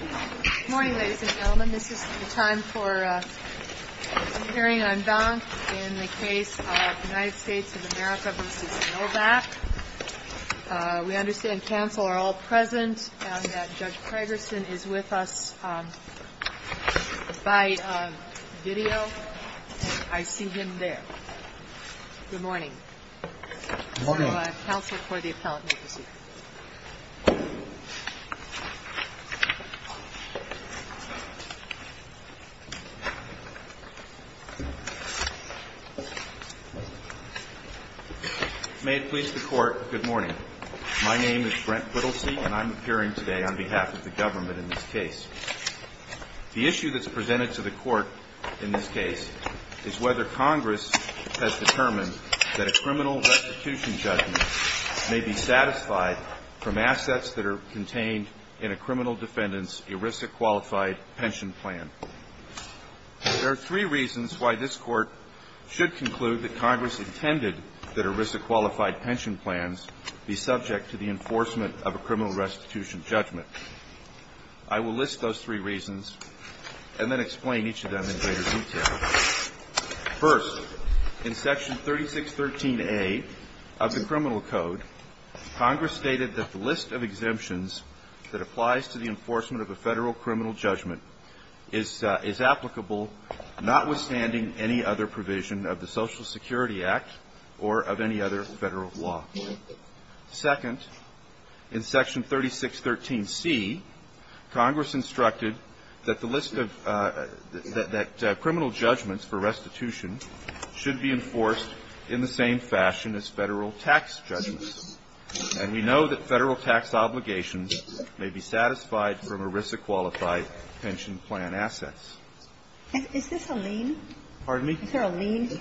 Good morning, ladies and gentlemen. This is the time for a hearing on Donk in the case of United States of America v. Novak. We understand counsel are all present and that Judge Kragerson is with us by video. I see him there. Good morning. Counsel for the appellate. May it please the Court, good morning. My name is Brent Whittlesey, and I'm appearing today on behalf of the government in this case. The issue that's presented to the Court of Appeals is that a criminal restitution judgment may be satisfied from assets that are contained in a criminal defendant's ERISA-qualified pension plan. There are three reasons why this Court should conclude that Congress intended that ERISA-qualified pension plans be subject to the enforcement of a criminal restitution judgment. I will list those three reasons and then explain each of them in greater detail. First, in Section 3613A of the Criminal Code, Congress stated that the list of exemptions that applies to the enforcement of a Federal criminal judgment is applicable notwithstanding any other provision of the Social Security Act or of any other Federal law. Second, in Section 3613C, Congress instructed that the list of the – that criminal judgments for restitution should be enforced in the same fashion as Federal tax judgments. And we know that Federal tax obligations may be satisfied from ERISA-qualified pension plan assets. Is this a lien? Pardon me? Is there a lien here?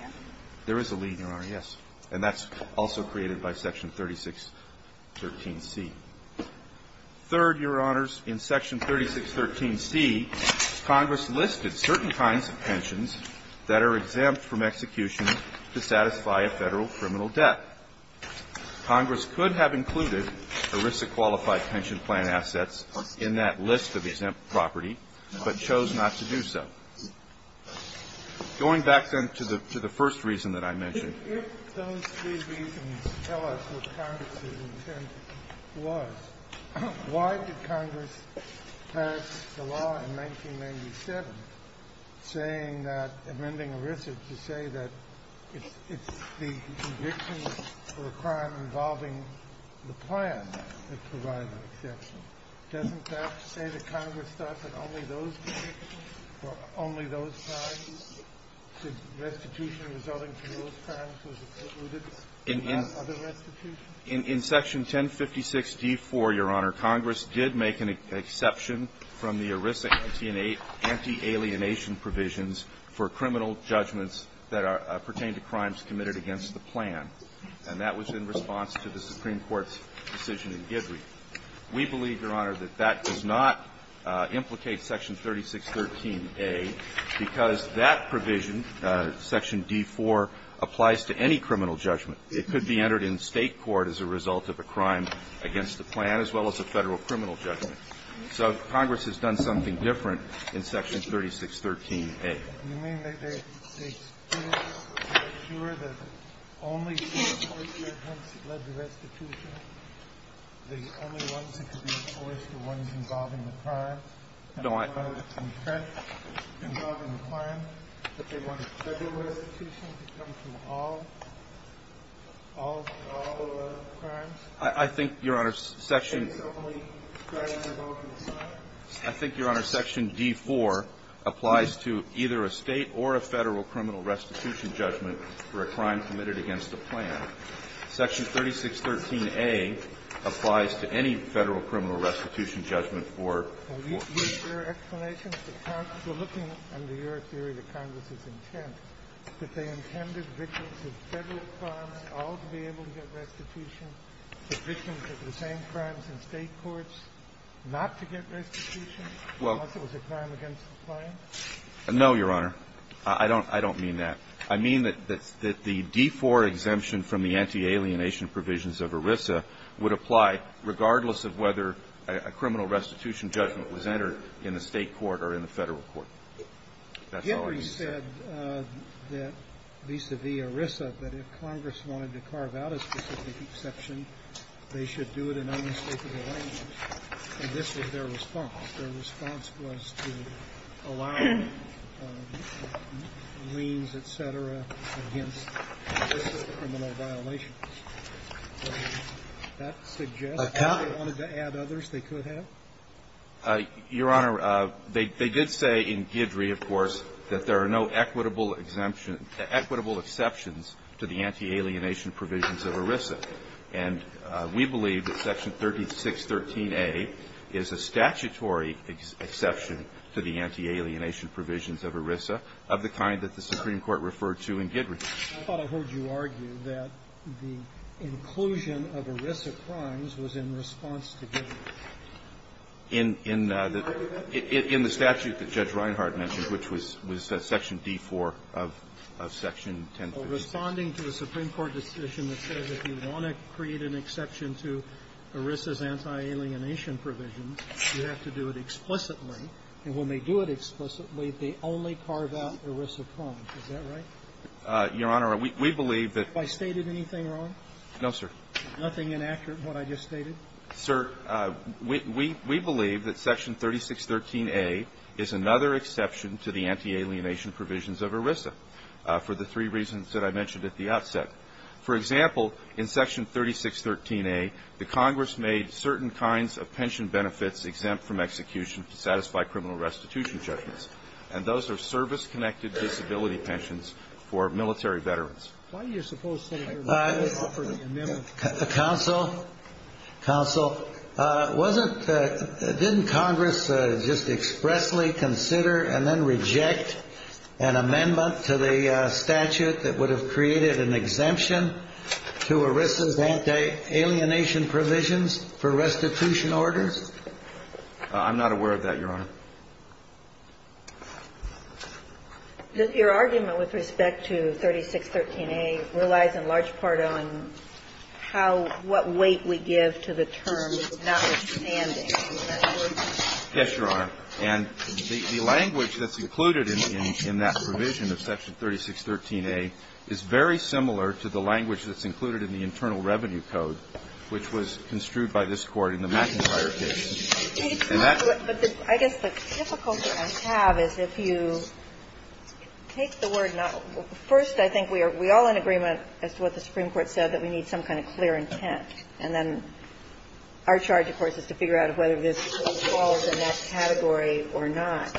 There is a lien, Your Honor, yes. And that's also created by Section 3613C. Third, Your Honors, in Section 3613C, Congress listed certain kinds of pensions that are exempt from execution to satisfy a Federal criminal debt. Congress could have included ERISA-qualified pension plan assets in that list of exempt property, but chose not to do so. Going back, then, to the first reason that I mentioned. If those three reasons tell us what Congress' intent was, why did Congress pass the law in 1997 saying that – amending ERISA to say that it's the conviction for a crime involving the plan that provides the exemption? Doesn't that say that only those convictions for only those crimes, restitution resulting from those crimes was excluded from other restitutions? In Section 1056d4, Your Honor, Congress did make an exception from the ERISA anti-alienation provisions for criminal judgments that pertain to crimes committed against the plan. And that was in response to the Supreme Court's decision in Guidry. We believe, Your Honor, that that does not implicate Section 3613a, because that provision, Section d4, applies to any criminal judgment. It could be entered in State court as a result of a crime against the plan, as well as a Federal criminal judgment. So Congress has done something different in Section 3613a. Do you mean that they excluded or made sure that only the enforcers led the restitution? The only ones who could be enforced were the ones involving the crime? No, I – The ones involved in the crime, that they wanted Federal restitution to come to all – all crimes? I think, Your Honor, Section – Okay. So only crimes involving the plan? I think, Your Honor, Section d4 applies to either a State or a Federal criminal restitution judgment for a crime committed against the plan. Section 3613a applies to any Federal criminal restitution judgment for – Were there explanations to Congress? We're looking under your theory to Congress's intent, that they intended victims of Federal crimes all to be able to get restitution, but victims of the same crimes in State courts not to get restitution? Unless it was a crime against the plan? No, Your Honor. I don't mean that. I mean that the d4 exemption from the anti-alienation provisions of ERISA would apply regardless of whether a criminal restitution judgment was entered in the State court or in the Federal court. That's all I can say. Hickory said that vis-a-vis ERISA, that if Congress wanted to carve out a specific exception, they should do it in any State of the language. And this was their response. Their response was to allow liens, et cetera, against ERISA's criminal violations. Does that suggest that they wanted to add others they could have? Your Honor, they did say in Guidry, of course, that there are no equitable exemptions to the anti-alienation provisions of ERISA. And we believe that Section 3613A is a statutory exception to the anti-alienation provisions of ERISA of the kind that the Supreme Court referred to in Guidry. I thought I heard you argue that the inclusion of ERISA crimes was in response to Guidry. In the statute that Judge Reinhart mentioned, which was Section d4 of the Federal Code of Section 1056. Responding to a Supreme Court decision that says if you want to create an exception to ERISA's anti-alienation provisions, you have to do it explicitly. And when they do it explicitly, they only carve out ERISA crimes. Is that right? Your Honor, we believe that — Have I stated anything wrong? No, sir. Nothing inaccurate in what I just stated? Sir, we believe that Section 3613A is another exception to the anti-alienation provisions of ERISA for the three reasons that I mentioned at the outset. For example, in Section 3613A, the Congress made certain kinds of pension benefits exempt from execution to satisfy criminal restitution judgments. And those are service-connected disability pensions for military veterans. Why do you suppose some of your amendments offer the amendment? Counsel, counsel, wasn't — didn't Congress just expressly consider and then reject an amendment to the statute that would have created an exemption to ERISA's anti-alienation provisions for restitution orders? I'm not aware of that, Your Honor. Does your argument with respect to 3613A relies in large part on how — what weight we give to the term, notwithstanding? Yes, Your Honor. And the language that's included in that provision of Section 3613A is very similar to the language that's included in the Internal Revenue Code, which was construed by this Court in the McIntyre case. But I guess the difficulty I have is if you take the word not — first, I think we are — we are all in agreement as to what the Supreme Court said, that we need some kind of clear intent. And then our charge, of course, is to figure out whether this falls in that category or not.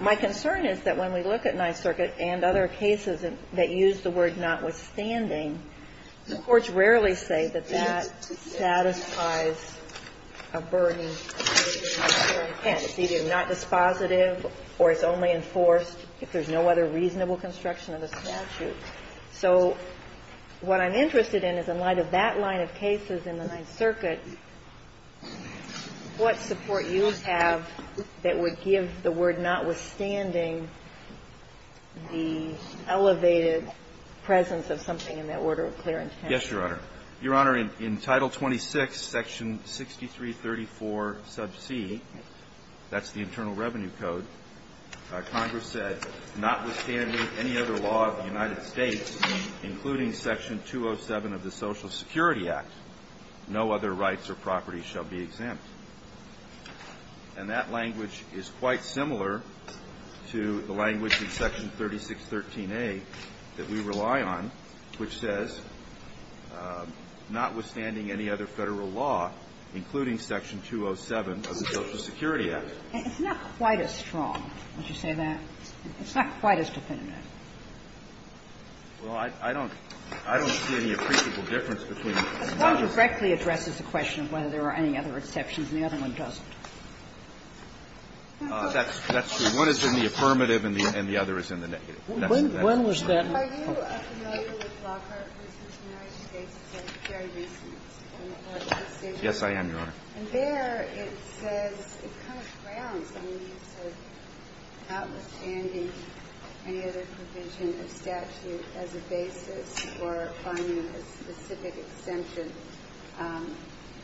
My concern is that when we look at Nye Circuit and other cases that use the word notwithstanding, the courts rarely say that that satisfies a burden of clear intent. It's either not dispositive or it's only enforced if there's no other reasonable construction of the statute. So what I'm interested in is in light of that line of cases in the Nye Circuit, what support you have that would give the word notwithstanding the elevated presence of something in that order of clear intent? Yes, Your Honor. Your Honor, in Title 26, Section 6334c, that's the Internal Revenue Code, Congress said, notwithstanding any other law of the United States, including Section 207 of the Social Security Act, no other rights or property shall be exempt. And that language is quite similar to the language in Section 3613a that we rely on, which says, notwithstanding any other Federal law, including Section 207 of the Social Security Act. It's not quite as strong, would you say that? It's not quite as definitive. Well, I don't see any appreciable difference between the two. This one directly addresses the question of whether there are any other exceptions and the other one doesn't. That's true. One is in the affirmative and the other is in the negative. When was that? Are you familiar with Lockhart v. United States? It's a very recent decision. Yes, I am, Your Honor. And there it says it kind of grounds on the use of notwithstanding any other provision of statute as a basis for finding a specific exemption.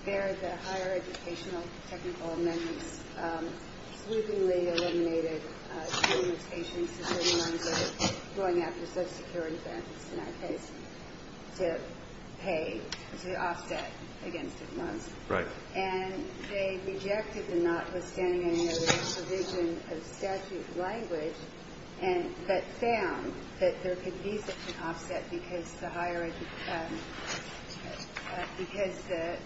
There, the higher educational technical amendments sleuthingly eliminated limitations to certain lines of going after Social Security benefits, in our case, to pay, to offset against it was. Right. And they rejected the notwithstanding any other provision of statute language that found that there could be such an offset because the higher education because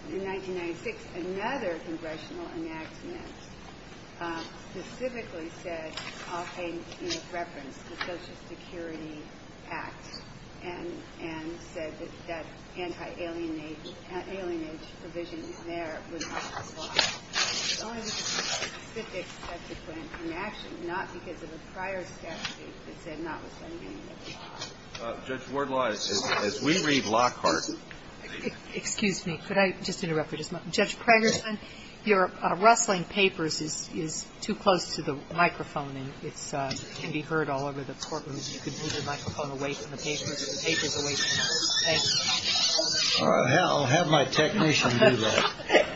in 1996, another congressional enactment specifically said, often in reference to the Social Security Act, and said that that anti-alienation, alienation provision there would not apply. It's only because of a specific statute in action, not because of a prior statute that said notwithstanding any other provision. Judge Wardlaw, as we read Lockhart. Excuse me. Could I just interrupt for just a moment? Judge Pragerson, your rustling papers is too close to the microphone, and it can be heard all over the courtroom. If you could move the microphone away from the papers. The paper is away from you. Thank you. I'll have my technician do that.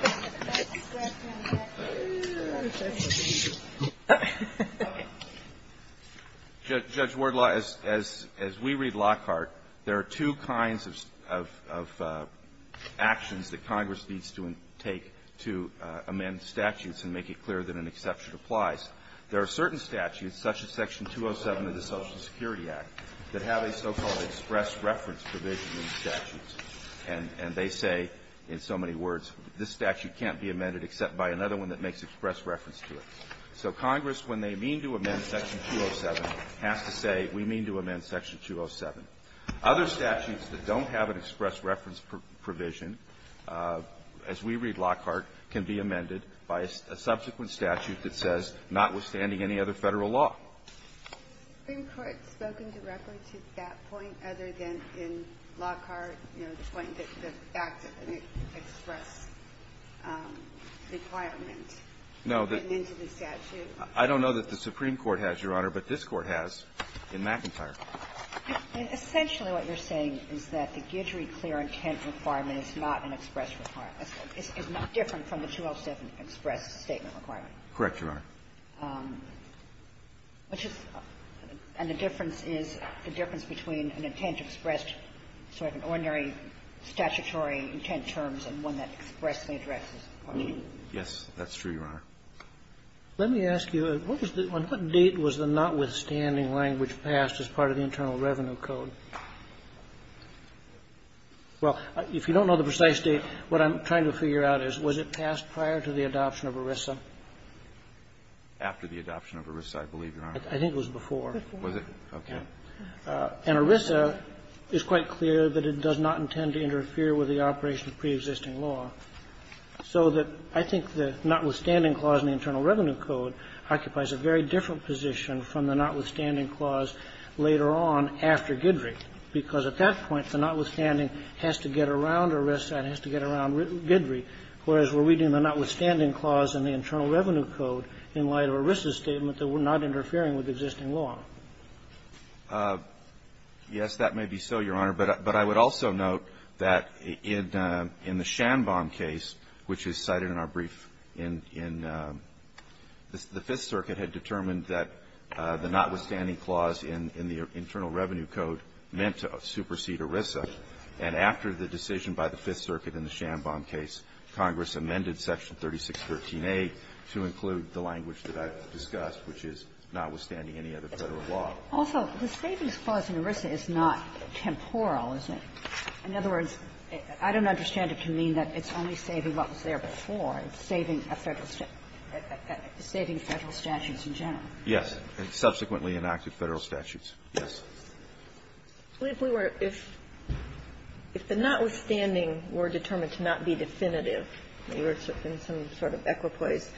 Judge Wardlaw, as we read Lockhart, there are two kinds of actions that Congress needs to take to amend statutes and make it clear that an exception applies. There are certain statutes, such as Section 207 of the Social Security Act, that have a so-called express reference provision in statutes. And they say, in so many words, this statute can't be amended except by another one that makes express reference to it. So Congress, when they mean to amend Section 207, has to say, we mean to amend Section 207. Other statutes that don't have an express reference provision, as we read Lockhart, can be amended by a subsequent statute that says, notwithstanding any other Federal law. The Supreme Court has spoken directly to that point, other than in Lockhart, you know, the point that the fact that an express requirement came into the statute. No. I don't know that the Supreme Court has, Your Honor, but this Court has in McIntyre. Essentially what you're saying is that the Guidry clear intent requirement is not an express requirement. It's not different from the 207 express statement requirement. Correct, Your Honor. And the difference is the difference between an intent expressed, sort of an ordinary statutory intent terms, and one that expressly addresses the question. Yes, that's true, Your Honor. Let me ask you, on what date was the notwithstanding language passed as part of the Internal Revenue Code? Well, if you don't know the precise date, what I'm trying to figure out is, was it passed prior to the adoption of ERISA? After the adoption of ERISA, I believe, Your Honor. I think it was before. Before. Was it? Okay. And ERISA is quite clear that it does not intend to interfere with the operation of preexisting law. So that I think the notwithstanding clause in the Internal Revenue Code occupies a very different position from the notwithstanding clause later on after Guidry, because at that point, the notwithstanding has to get around ERISA and has to get around Guidry. Whereas we're reading the notwithstanding clause in the Internal Revenue Code in light of ERISA's statement that we're not interfering with existing law. Yes, that may be so, Your Honor. But I would also note that in the Schanbaum case, which is cited in our brief in the Fifth Circuit, had determined that the notwithstanding clause in the Internal Revenue Code meant to supersede ERISA. And after the decision by the Fifth Circuit in the Schanbaum case, Congress amended Section 3613A to include the language that I've discussed, which is notwithstanding any other Federal law. Also, the savings clause in ERISA is not temporal, is it? In other words, I don't understand it to mean that it's only saving what was there before, it's saving a Federal statute, saving Federal statutes in general. It subsequently enacted Federal statutes. Yes. If we were to – if the notwithstanding were determined to not be definitive, you were in some sort of equipoise,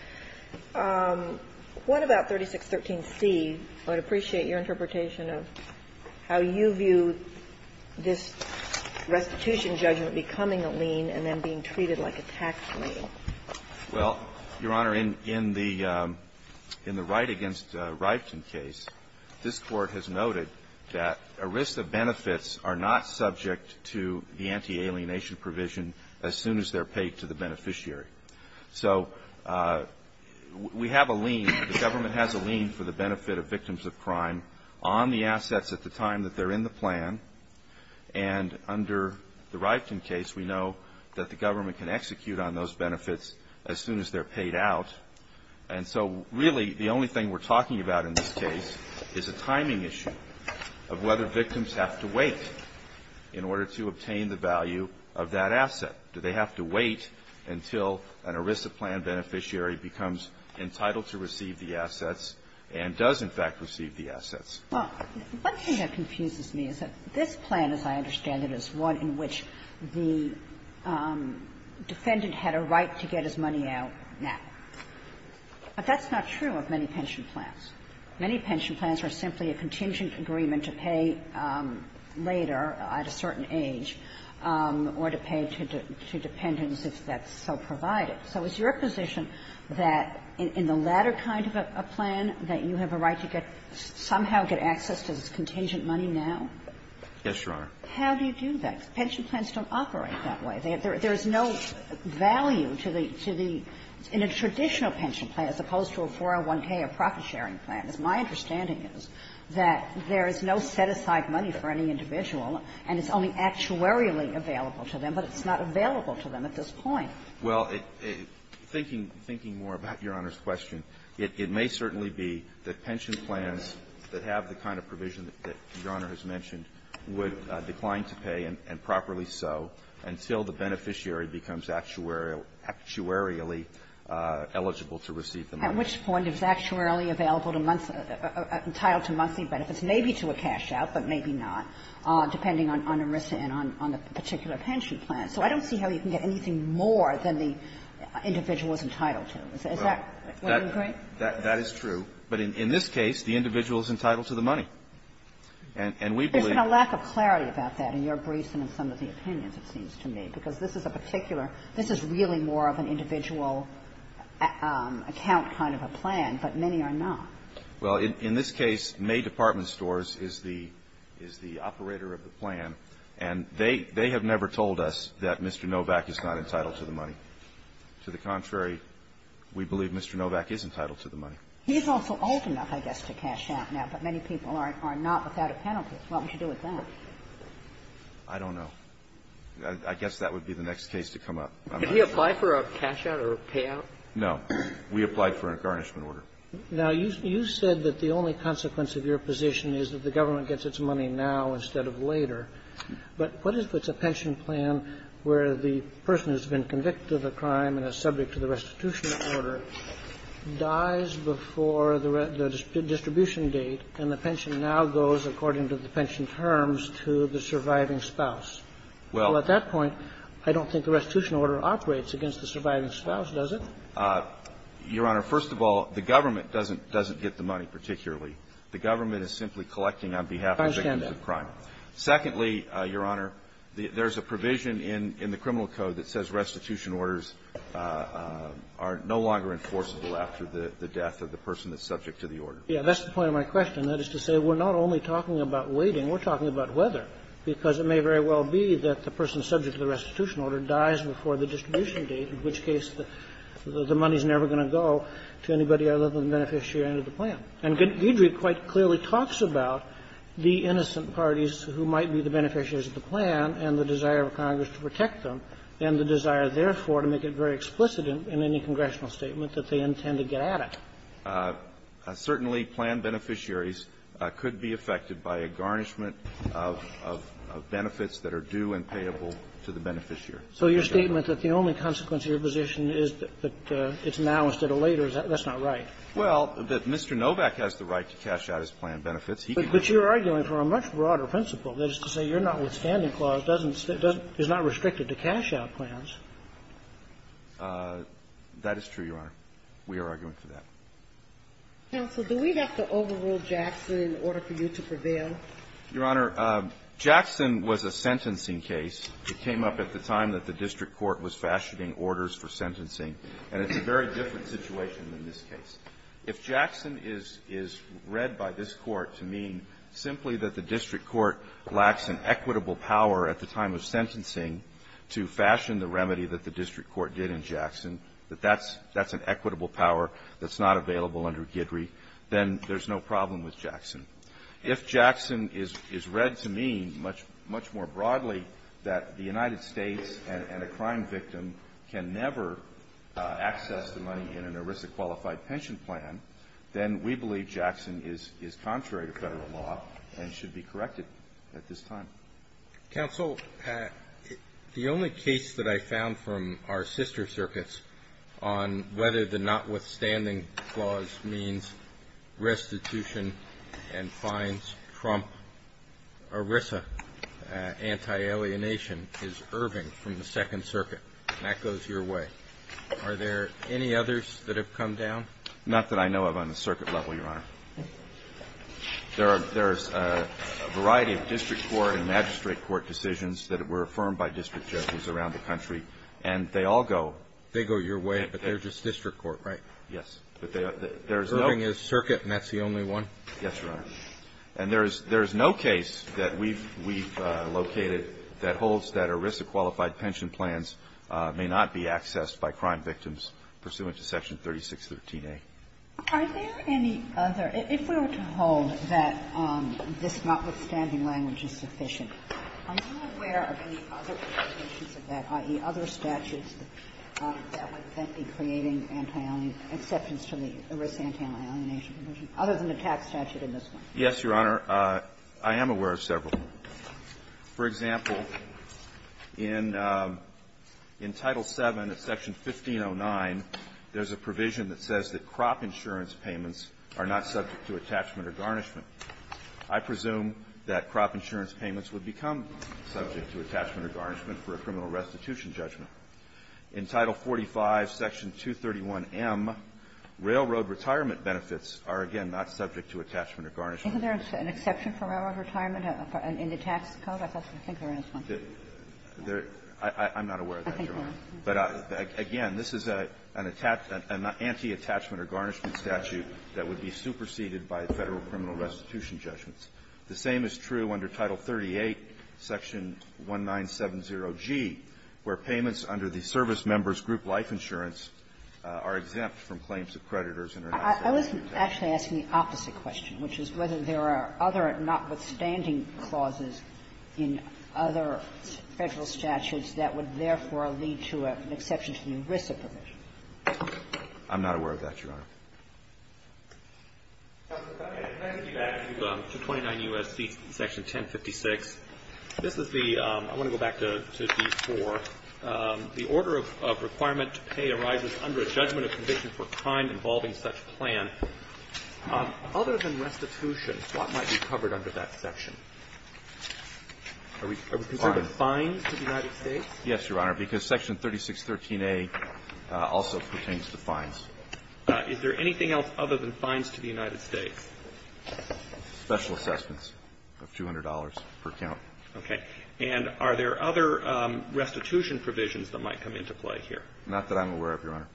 what about 3613C? I would appreciate your interpretation of how you view this restitution judgment becoming a lien and then being treated like a tax lien. Well, Your Honor, in the Wright v. Riften case, this Court has noted that ERISA benefits are not subject to the anti-alienation provision as soon as they're paid to the beneficiary. So we have a lien, the government has a lien for the benefit of victims of crime on the assets at the time that they're in the plan. And under the Riften case, we know that the government can execute on those benefits as soon as they're paid out. And so, really, the only thing we're talking about in this case is a timing issue of whether victims have to wait in order to obtain the value of that asset. Do they have to wait until an ERISA plan beneficiary becomes entitled to receive the assets and does, in fact, receive the assets? Well, one thing that confuses me is that this plan, as I understand it, is one in which the defendant had a right to get his money out now. But that's not true of many pension plans. Many pension plans are simply a contingent agreement to pay later, at a certain age, or to pay to dependents if that's so provided. So is your position that in the latter kind of a plan, that you have a right to get – somehow get access to this contingent money now? Yes, Your Honor. How do you do that? Pension plans don't operate that way. There's no value to the – in a traditional pension plan, as opposed to a 401k or profit sharing plan, as my understanding is, that there is no set-aside money for any individual, and it's only actuarially available to them, but it's not available to them at this point. Well, thinking more about Your Honor's question, it may certainly be that pension plans that have the kind of provision that Your Honor has mentioned would decline to pay, and properly so, until the beneficiary becomes actuarial – actuarially eligible to receive the money. At which point is actuarially available to entitled to monthly benefits? Maybe to a cash-out, but maybe not, depending on the risk and on the particular pension plan. So I don't see how you can get anything more than the individual is entitled to. Is that what you're saying? That is true. But in this case, the individual is entitled to the money. And we believe – There's been a lack of clarity about that in your briefs and in some of the opinions, it seems to me, because this is a particular – this is really more of an individual account kind of a plan, but many are not. Well, in this case, May Department Stores is the – is the operator of the plan. And they – they have never told us that Mr. Novak is not entitled to the money. To the contrary, we believe Mr. Novak is entitled to the money. He's also old enough, I guess, to cash out now, but many people are not without a penalty. What would you do with that? I don't know. I guess that would be the next case to come up. Could he apply for a cash out or a payout? No. We applied for a garnishment order. Now, you said that the only consequence of your position is that the government gets its money now instead of later. But what if it's a pension plan where the person who's been convicted of a crime and is subject to the restitution order dies before the distribution date and the pension now goes, according to the pension terms, to the surviving spouse? Well, at that point, I don't think the restitution order operates against the surviving spouse, does it? Your Honor, first of all, the government doesn't – doesn't get the money particularly. The government is simply collecting on behalf of victims of crime. Secondly, Your Honor, there's a provision in the criminal code that says restitution orders are no longer enforceable after the death of the person that's subject to the order. Yeah, that's the point of my question. That is to say, we're not only talking about waiting. We're talking about whether, because it may very well be that the person subject to the restitution order dies before the distribution date, in which case the money is never going to go to anybody other than the beneficiary under the plan. And Guidry quite clearly talks about the innocent parties who might be the beneficiaries of the plan and the desire of Congress to protect them and the desire, therefore, to make it very explicit in any congressional statement that they intend to get at it. Certainly, plan beneficiaries could be affected by a garnishment of benefits that are due and payable to the beneficiary. So your statement that the only consequence of your position is that it's now instead of later, that's not right. Well, Mr. Novak has the right to cash out his plan benefits. But you're arguing for a much broader principle. That is to say, your notwithstanding clause is not restricted to cash-out plans. That is true, Your Honor. We are arguing for that. Counsel, do we have to overrule Jackson in order for you to prevail? Your Honor, Jackson was a sentencing case. It came up at the time that the district court was fashioning orders for sentencing. And it's a very different situation than this case. If Jackson is read by this Court to mean simply that the district court lacks an equitable power at the time of sentencing to fashion the remedy that the district court did in Jackson, that that's an equitable power that's not available under Guidry, then there's no problem with Jackson. If Jackson is read to mean much more broadly that the United States and a crime victim can never access the money in an ERISA qualified pension plan, then we believe Jackson is contrary to federal law and should be corrected at this time. Counsel, the only case that I found from our sister circuits on whether the notwithstanding clause means restitution and fines trump ERISA anti-alienation is Irving from the Second Circuit, and that goes your way. Are there any others that have come down? Not that I know of on the circuit level, Your Honor. There's a variety of district court and magistrate court decisions that were affirmed by district judges around the country, and they all go your way. They go your way, but they're just district court, right? Yes. Irving is circuit, and that's the only one? Yes, Your Honor. And there is no case that we've located that holds that ERISA qualified pension plans may not be accessed by crime victims pursuant to Section 3613A. Are there any other – if we were to hold that this notwithstanding language is sufficient, are you aware of any other provisions of that, i.e., other statutes that would then be creating anti-alienation – exceptions to the ERISA anti-alienation provision, other than the tax statute in this one? Yes, Your Honor. I am aware of several. For example, in Title VII of Section 1509, there's a provision that says that crime insurance payments are not subject to attachment or garnishment. I presume that crop insurance payments would become subject to attachment or garnishment for a criminal restitution judgment. In Title 45, Section 231M, railroad retirement benefits are, again, not subject to attachment or garnishment. Isn't there an exception for railroad retirement in the tax code? I think there is one. There – I'm not aware of that, Your Honor. I think there is. But, again, this is an – an anti-attachment or garnishment statute that would be superseded by Federal criminal restitution judgments. The same is true under Title 38, Section 1970G, where payments under the service member's group life insurance are exempt from claims of creditors and are not subject to that. I was actually asking the opposite question, which is whether there are other notwithstanding clauses in other Federal statutes that would therefore lead to an exception to the ERISA provision. I'm not aware of that, Your Honor. Justice Kennedy, can I get you back to 29 U.S.C. Section 1056? This is the – I want to go back to D4. The order of requirement to pay arises under a judgment of conviction for crime involving such plan. Other than restitution, what might be covered under that section? Are we – are we concerned with fines to the United States? Yes, Your Honor, because Section 3613A also pertains to fines. Is there anything else other than fines to the United States? Special assessments of $200 per count. Okay. And are there other restitution provisions that might come into play here? Not that I'm aware of, Your Honor.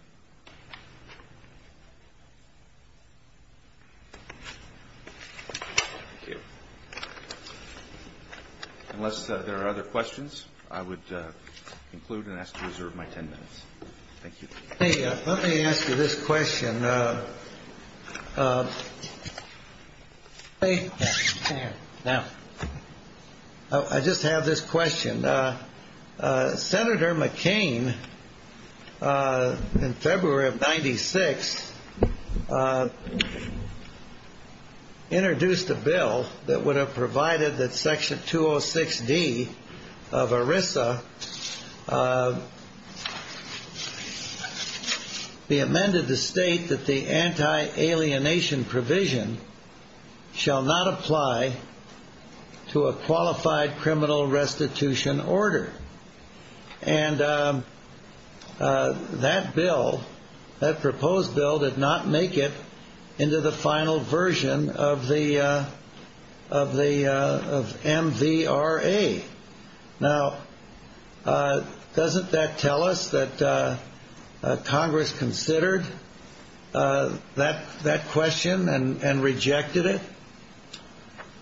Thank you. Unless there are other questions, I would conclude and ask to reserve my 10 minutes. Thank you. Let me ask you this question. Senator McCain, in February of 1996, introduced a bill that would have provided that Section 206D of ERISA be amended to state that the anti-alienation provision shall not apply to a qualified criminal restitution order. And that bill, that proposed bill, did not make it into the final version of the – of MVRA. Now, doesn't that tell us that Congress considered that question and rejected it?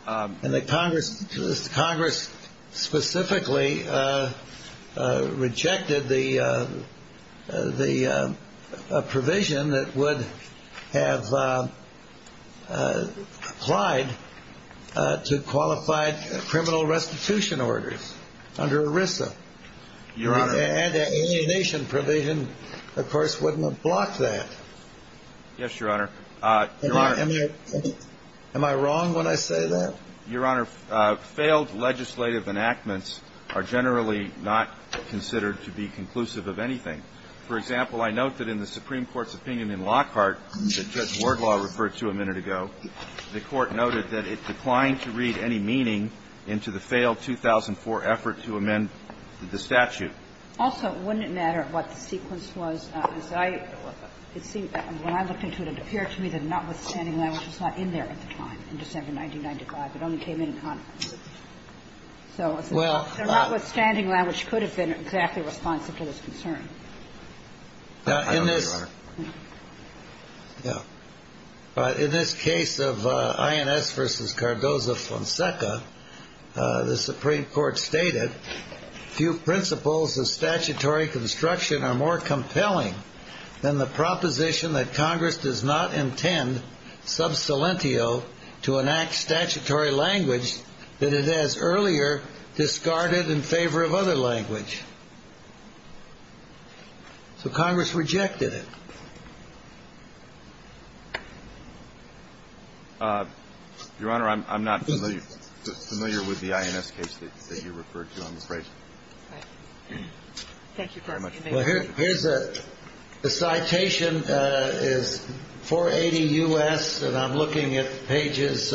And that Congress specifically rejected the provision that would have applied to qualified criminal restitution orders under ERISA. Your Honor. The anti-alienation provision, of course, wouldn't have blocked that. Yes, Your Honor. Am I wrong when I say that? Your Honor, failed legislative enactments are generally not considered to be conclusive of anything. For example, I note that in the Supreme Court's opinion in Lockhart that Judge Wardlaw referred to a minute ago, the Court noted that it declined to read any meaning into the failed 2004 effort to amend the statute. Also, wouldn't it matter what the sequence was? It seemed to me that the non-withstanding language was not in there at the time, in December 1995. It only came in in Congress. So a non-withstanding language could have been exactly responsive to this concern. I don't think so, Your Honor. Yeah. But in this case of INS v. Cardozo-Fonseca, the Supreme Court stated, Your Honor, I'm not familiar with the INS case that you referred to on the record. I think that's a good point. It's not a non-withstanding language. It's not a non-withstanding language. It's a non-withstanding phrase. All right. Thank you very much. Well, here's a citation. It's 480 U.S., and I'm looking at pages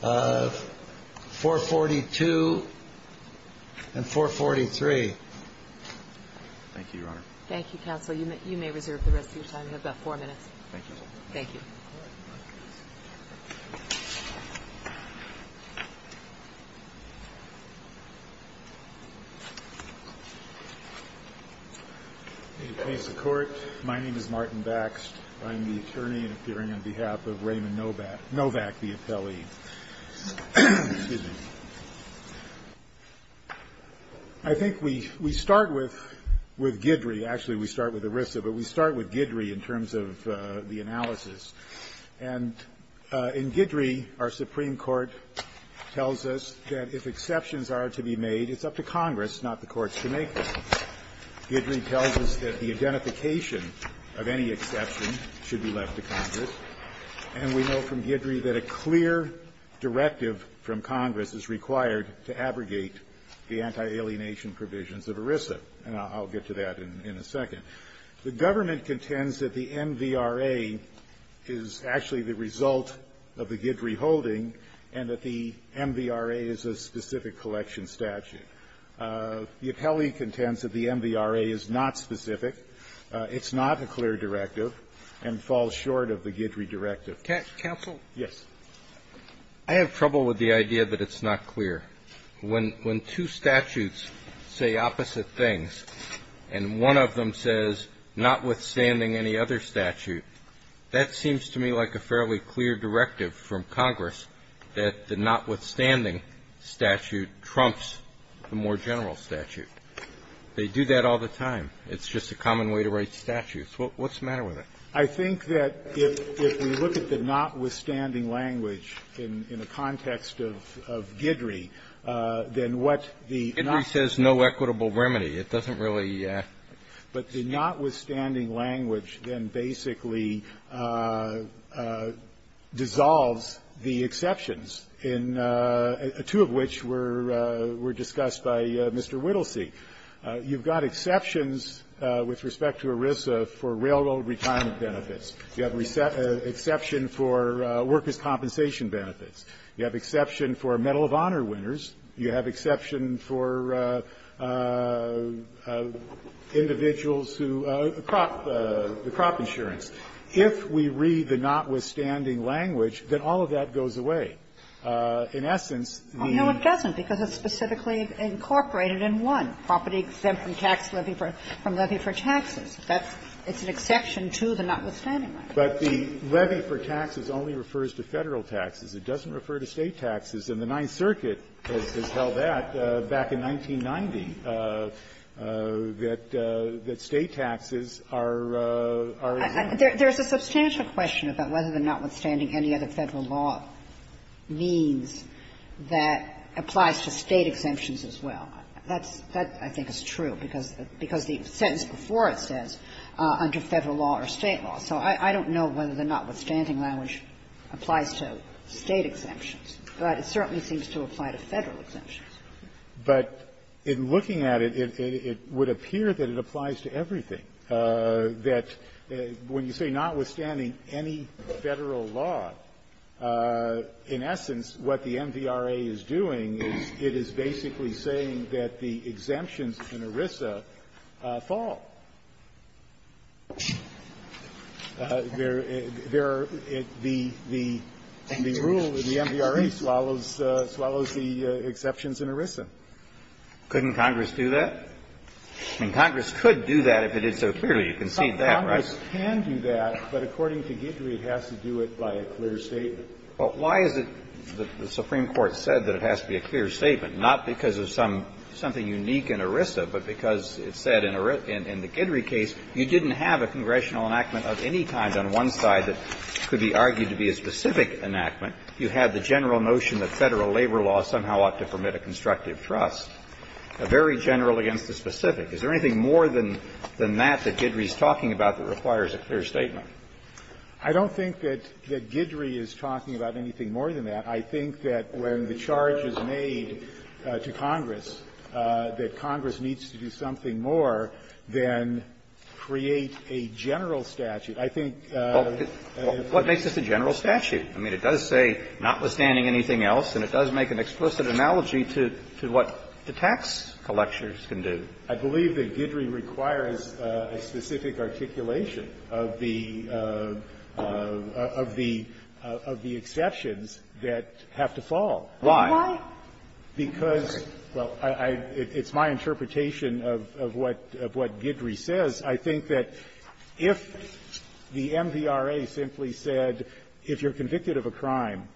442 and 443. Thank you, Your Honor. Thank you, counsel. You may reserve the rest of your time. You have about four minutes. Thank you. Thank you. May it please the Court, my name is Martin Baxt. I'm the attorney appearing on behalf of Raymond Novak, the appellee. Excuse me. I think we start with Guidry. Actually, we start with ERISA, but we start with Guidry in terms of the analysis. And in Guidry, our Supreme Court tells us that if exceptions are to be made, it's up to Congress, not the courts to make them. Guidry tells us that the identification of any exception should be left to Congress. And we know from Guidry that a clear directive from Congress is required to abrogate the anti-alienation provisions of ERISA. And I'll get to that in a second. The government contends that the MVRA is actually the result of the Guidry holding and that the MVRA is a specific collection statute. The appellee contends that the MVRA is not specific, it's not a clear directive, and falls short of the Guidry directive. Counsel? Yes. I have trouble with the idea that it's not clear. When two statutes say opposite things and one of them says notwithstanding any other statute, that seems to me like a fairly clear directive from Congress that the notwithstanding statute trumps the more general statute. They do that all the time. It's just a common way to write statutes. What's the matter with it? I think that if we look at the notwithstanding language in the context of Guidry, then what the notwithstanding language then basically dissolves the exceptions, two of which were discussed by Mr. Whittlesey. You've got exceptions with respect to ERISA for railroad retirement benefits. You have exception for workers' compensation benefits. You have exception for Medal of Honor winners. You have exception for individuals who the crop insurance. If we read the notwithstanding language, then all of that goes away. In essence, the ---- Sotomayor, the property exempt from tax levy from levy for taxes, that's an exception to the notwithstanding language. But the levy for taxes only refers to Federal taxes. It doesn't refer to State taxes. And the Ninth Circuit has held that back in 1990, that State taxes are as well. There's a substantial question about whether the notwithstanding any other Federal exemption law means that applies to State exemptions as well. That's ---- that I think is true, because the sentence before it says, under Federal law or State law. So I don't know whether the notwithstanding language applies to State exemptions, but it certainly seems to apply to Federal exemptions. But in looking at it, it would appear that it applies to everything, that when you say notwithstanding any Federal law, in essence, what the MVRA is doing is it is basically saying that the exemptions in ERISA fall. There are the rule that the MVRA swallows the exceptions in ERISA. Couldn't Congress do that? I mean, Congress could do that if it did so clearly. You can see that, right? Congress can do that, but according to Guidry, it has to do it by a clear statement. Well, why is it that the Supreme Court said that it has to be a clear statement? Not because of some ---- something unique in ERISA, but because it said in the Guidry case, you didn't have a congressional enactment of any kind on one side that could be argued to be a specific enactment. You had the general notion that Federal labor law somehow ought to permit a constructive trust, a very general against the specific. Is there anything more than that that Guidry is talking about that requires a clear statement? I don't think that Guidry is talking about anything more than that. I think that when the charge is made to Congress that Congress needs to do something more than create a general statute, I think ---- Well, what makes this a general statute? I mean, it does say notwithstanding anything else, and it does make an explicit analogy to what the tax collectors can do. I believe that Guidry requires a specific articulation of the ---- of the exceptions that have to fall. Why? Because ---- well, I ---- it's my interpretation of what Guidry says. I think that if the MVRA simply said, if you're convicted of a crime,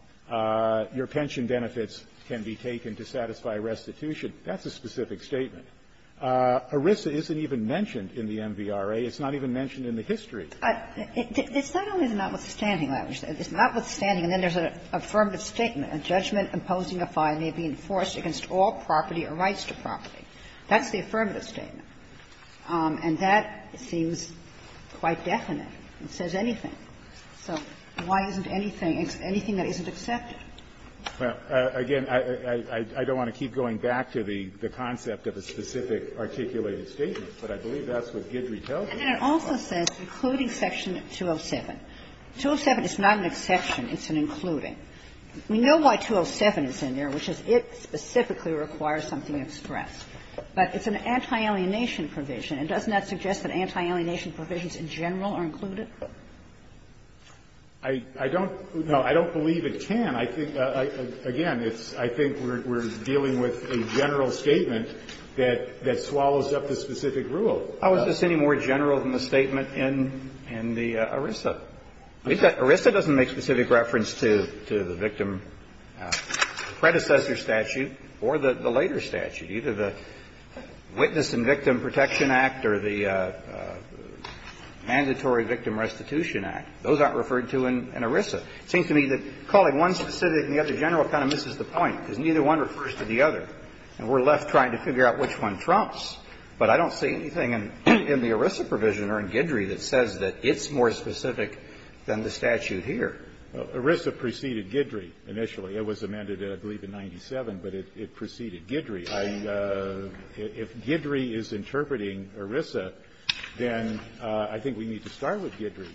your pension benefits can be taken to satisfy restitution, that's a specific statement. ERISA isn't even mentioned in the MVRA. It's not even mentioned in the history. It's not only the notwithstanding language. It's notwithstanding, and then there's an affirmative statement. A judgment imposing a fine may be enforced against all property or rights to property. That's the affirmative statement. And that seems quite definite. It says anything. So why isn't anything ---- anything that isn't accepted? Well, again, I don't want to keep going back to the concept of a specific articulated statement, but I believe that's what Guidry tells you. And then it also says including section 207. 207 is not an exception. It's an including. We know why 207 is in there, which is it specifically requires something expressed. But it's an anti-alienation provision. And doesn't that suggest that anti-alienation provisions in general are included? I don't ---- no, I don't believe it can. I think, again, it's ---- I think we're dealing with a general statement that swallows up the specific rule. How is this any more general than the statement in the ERISA? ERISA doesn't make specific reference to the victim predecessor statute or the later statute, either the Witness and Victim Protection Act or the Mandatory Victim Restitution Act. Those aren't referred to in ERISA. It seems to me that calling one specific and the other general kind of misses the point, because neither one refers to the other. And we're left trying to figure out which one trumps. But I don't see anything in the ERISA provision or in Guidry that says that it's more specific than the statute here. ERISA preceded Guidry initially. It was amended, I believe, in 97, but it preceded Guidry. I ---- if Guidry is interpreting ERISA, then I think we need to start with Guidry.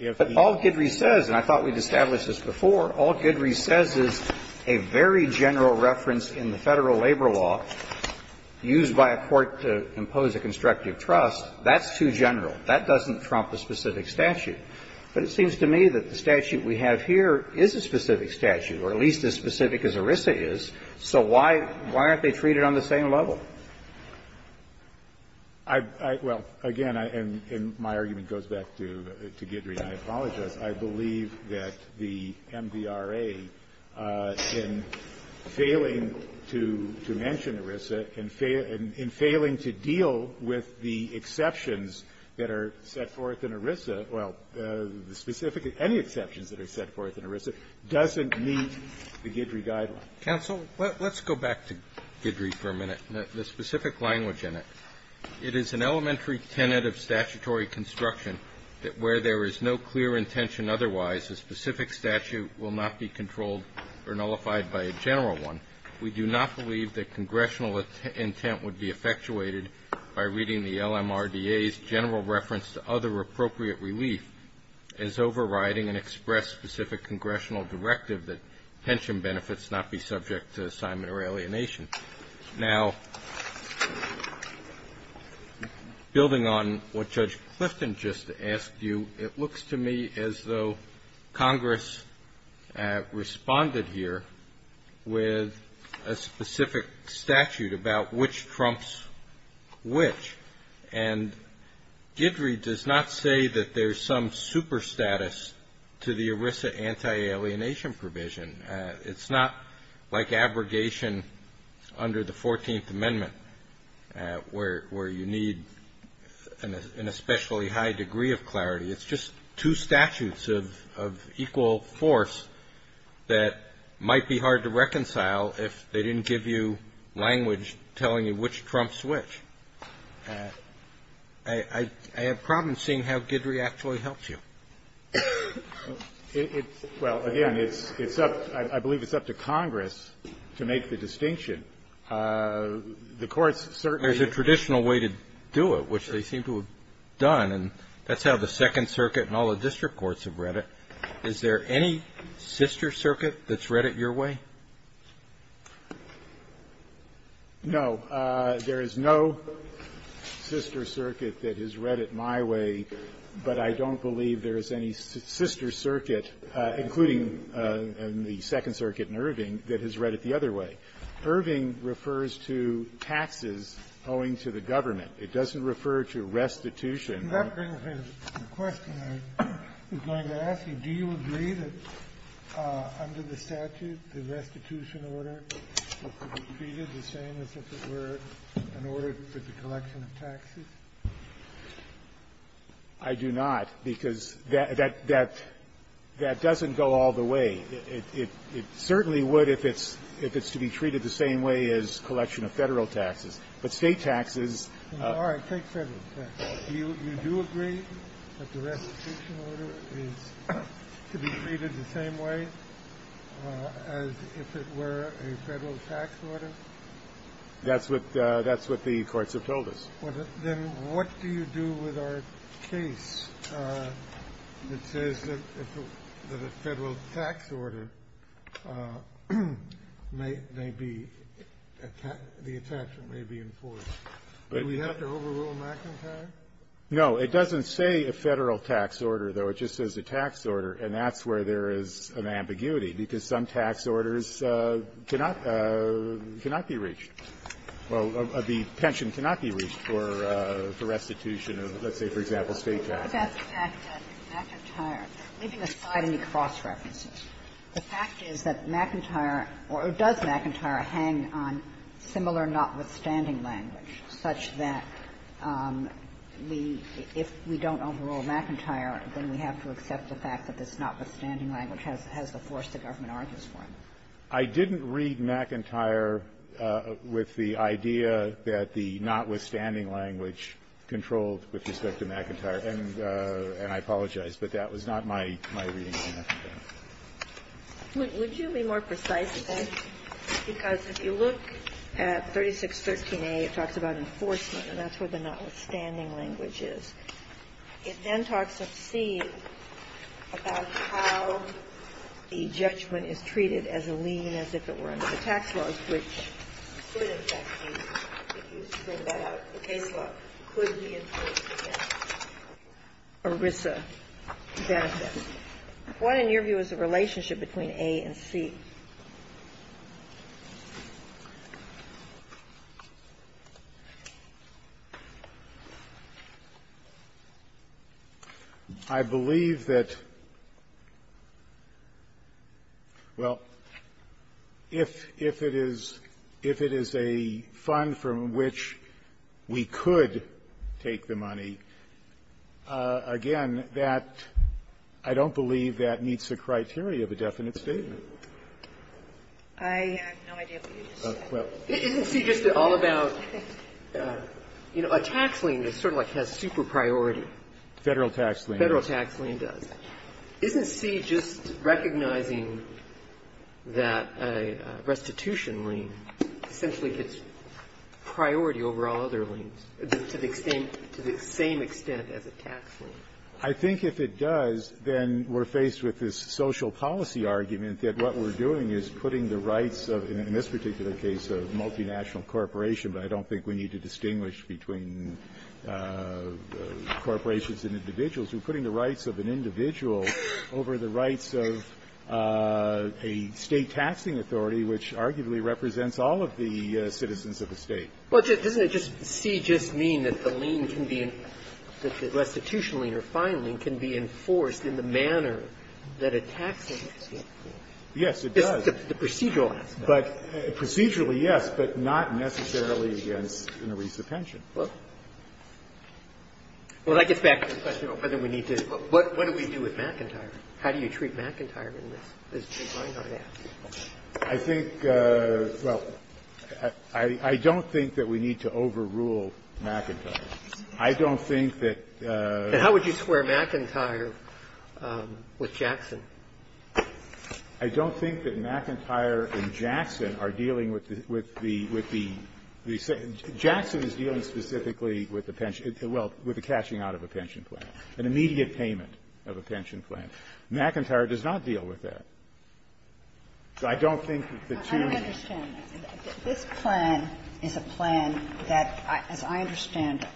If the ---- But all Guidry says, and I thought we'd established this before, all Guidry says is a very general reference in the Federal labor law used by a court to impose a constructive trust, that's too general. That doesn't trump a specific statute. But it seems to me that the statute we have here is a specific statute, or at least as specific as ERISA is, so why aren't they treated on the same level? I ---- well, again, and my argument goes back to Guidry, and I apologize. I believe that the MVRA, in failing to mention ERISA, in failing to deal with the exceptions that are set forth in ERISA, well, the specific ---- any exceptions that are set forth in ERISA, doesn't meet the Guidry Guideline. Counsel, let's go back to Guidry for a minute, the specific language in it. It is an elementary tenet of statutory construction that where there is no clear intention otherwise, a specific statute will not be controlled or nullified by a general one. We do not believe that congressional intent would be effectuated by reading the LMRDA's general reference to other appropriate relief as overriding an express specific congressional directive that pension benefits not be subject to assignment or alienation. Now, building on what Judge Clifton just asked you, it looks to me as though Congress responded here with a specific statute about which trumps which. And Guidry does not say that there's some super status to the ERISA anti-alienation provision. It's not like abrogation under the 14th Amendment where you need an especially high degree of clarity. It's just two statutes of equal force that might be hard to reconcile if they didn't give you language telling you which trumps which. I have problems seeing how Guidry actually helps you. It's up to Congress to make the distinction. The courts certainly do. There's a traditional way to do it, which they seem to have done. And that's how the Second Circuit and all the district courts have read it. Is there any sister circuit that's read it your way? No. There is no sister circuit that has read it my way, but I don't believe there is any sister circuit, including in the Second Circuit in Irving, that has read it the other way. Irving refers to taxes owing to the government. It doesn't refer to restitution. The question I was going to ask you, do you agree that under the statute, the restitution order is treated the same as if it were an order for the collection of taxes? I do not, because that doesn't go all the way. It certainly would if it's to be treated the same way as collection of Federal taxes. But State taxes are. All right, take Federal taxes. Do you agree that the restitution order is to be treated the same way as if it were a Federal tax order? That's what the courts have told us. Then what do you do with our case that says that a Federal tax order may be attached and may be enforced? Do we have to overrule McIntyre? No. It doesn't say a Federal tax order, though. It just says a tax order, and that's where there is an ambiguity, because some tax orders cannot be reached. Well, the pension cannot be reached for restitution of, let's say, for example, State taxes. The fact that McIntyre, leaving aside any cross-references, the fact is that McIntyre or does McIntyre hang on similar notwithstanding language, such that we, if we don't overrule McIntyre, then we have to accept the fact that this notwithstanding language has the force the government argues for it. I didn't read McIntyre with the idea that the notwithstanding language controlled with respect to McIntyre, and I apologize, but that was not my reading of McIntyre. Would you be more precise, because if you look at 3613a, it talks about enforcement, and that's where the notwithstanding language is. It then talks, let's see, about how the judgment is treated as a lien as if it were under the tax laws, which could, in fact, be, if you bring that out, the case law, could be enforced against ERISA benefit. What, in your view, is the relationship between A and C? I believe that, well, if it is a fund from which we could take the money, again, I don't believe that meets the criteria of a definite statement. I have no idea what you just said. Isn't C just all about, you know, a tax lien that sort of like has super priority? Federal tax lien. Federal tax lien does. Isn't C just recognizing that a restitution lien essentially gets priority over all other liens to the same extent as a tax lien? I think if it does, then we're faced with this social policy argument that what we're doing is putting the rights of, in this particular case, of multinational corporation, but I don't think we need to distinguish between corporations and individuals. We're putting the rights of an individual over the rights of a State taxing authority, which arguably represents all of the citizens of the State. Well, doesn't it just see just mean that the lien can be, that the restitution lien or fine lien can be enforced in the manner that a tax lien is enforced? Yes, it does. The procedural aspect. Procedurally, yes, but not necessarily against an arreast of pension. Well, that gets back to the question of whether we need to, what do we do with McIntyre? How do you treat McIntyre in this, as Jake Reinhart asked? I think, well, I don't think that we need to overrule McIntyre. I don't think that the ---- And how would you square McIntyre with Jackson? I don't think that McIntyre and Jackson are dealing with the, with the, with the ---- Jackson is dealing specifically with the pension, well, with the cashing out of a pension plan, an immediate payment of a pension plan. McIntyre does not deal with that. So I don't think that the two ---- I understand. This plan is a plan that, as I understand,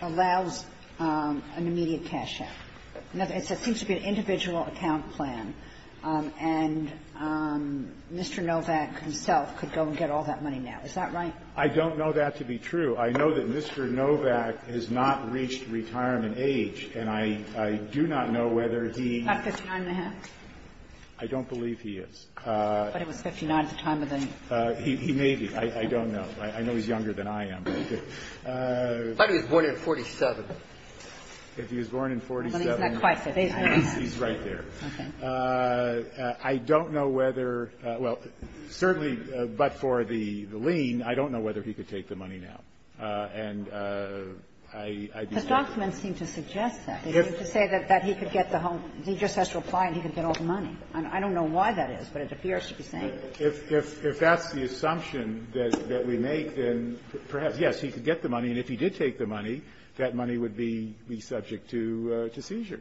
allows an immediate cash out. It seems to be an individual account plan, and Mr. Novak himself could go and get all that money now. Is that right? I don't know that to be true. I know that Mr. Novak has not reached retirement age, and I do not know whether he ---- About 59 and a half? I don't believe he is. But it was 59 at the time of the ---- He may be. I don't know. I know he's younger than I am. But if he was born in 47. If he was born in 47, he's right there. Okay. I don't know whether ---- well, certainly, but for the lien, I don't know whether he could take the money now. And I'd be happy to. The documents seem to suggest that. To say that he could get the home ---- he just has to apply and he could get all the money. I don't know why that is, but it appears to be saying that. If that's the assumption that we make, then perhaps, yes, he could get the money. And if he did take the money, that money would be subject to seizure.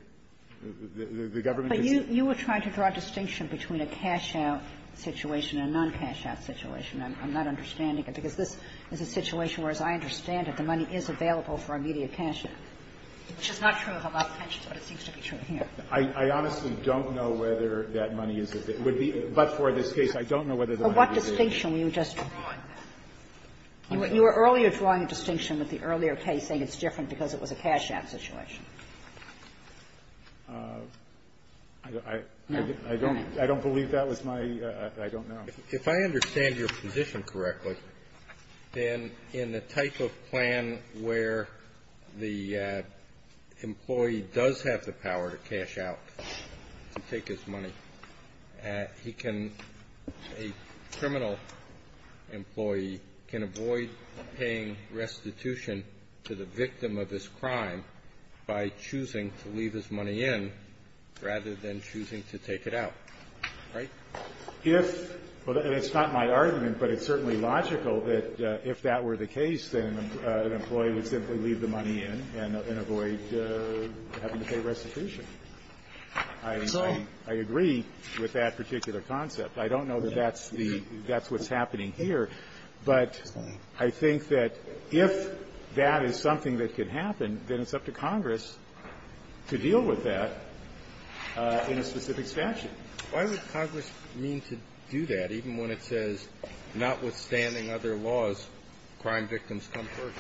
The government is ---- But you were trying to draw a distinction between a cash-out situation and a non-cash-out situation. I'm not understanding it, because this is a situation where, as I understand it, the money is available for immediate cash-out. Which is not true of a lot of pensions, but it seems to be true here. I honestly don't know whether that money is ---- would be ---- but for this case, I don't know whether the money would be available. But what distinction were you just drawing? You were earlier drawing a distinction with the earlier case saying it's different because it was a cash-out situation. I don't ---- I don't believe that was my ---- I don't know. If I understand your position correctly, then in the type of plan where the employee does have the power to cash out, to take his money, he can ---- a criminal employee can avoid paying restitution to the victim of his crime by choosing to leave his money in rather than choosing to take it out, right? If ---- and it's not my argument, but it's certainly logical that if that were the case, then an employee would simply leave the money in and avoid having to pay restitution. So I agree with that particular concept. I don't know that that's the ---- that's what's happening here. But I think that if that is something that could happen, then it's up to Congress to deal with that in a specific statute. But why would Congress mean to do that, even when it says, notwithstanding other laws, crime victims come first?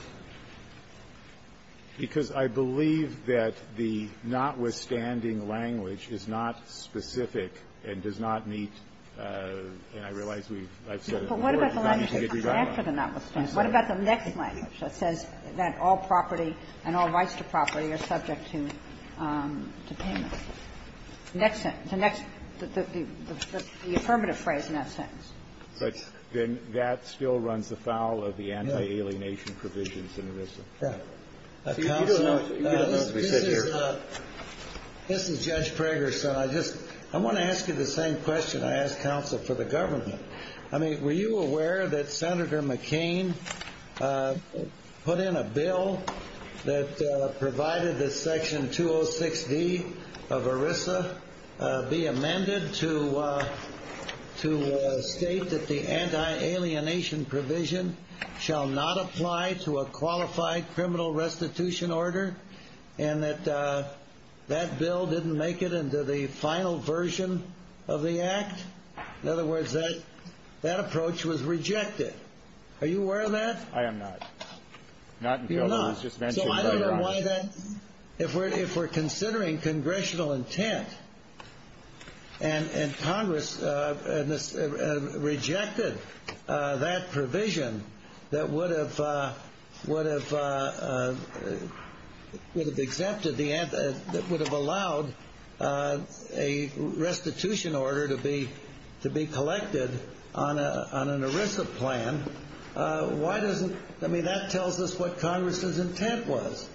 Because I believe that the notwithstanding language is not specific and does not meet ---- and I realize we've ---- I've said it before. But what about the language that comes after the notwithstanding? What about the next language that says that all property and all rights to property are subject to payment? The next sentence, the next ---- the affirmative phrase in that sentence. But then that still runs afoul of the anti-alienation provisions in ERISA. Yeah. Counsel, you don't know what we said here. This is Judge Prager, so I just ---- I want to ask you the same question I asked counsel for the government. I mean, were you aware that Senator McCain put in a bill that provided that Section 206D of ERISA be amended to state that the anti-alienation provision shall not apply to a qualified criminal restitution order, and that that bill didn't make it into the final version of the Act? In other words, that approach was rejected. Are you aware of that? I am not. Not until it was just mentioned by your Honor. So I don't know why that ---- if we're considering congressional intent and Congress rejected that provision that would have exempted the ---- that would have allowed a restitution order to be collected on an ERISA plan, why doesn't ---- I mean, that tells us what Congress's intent was.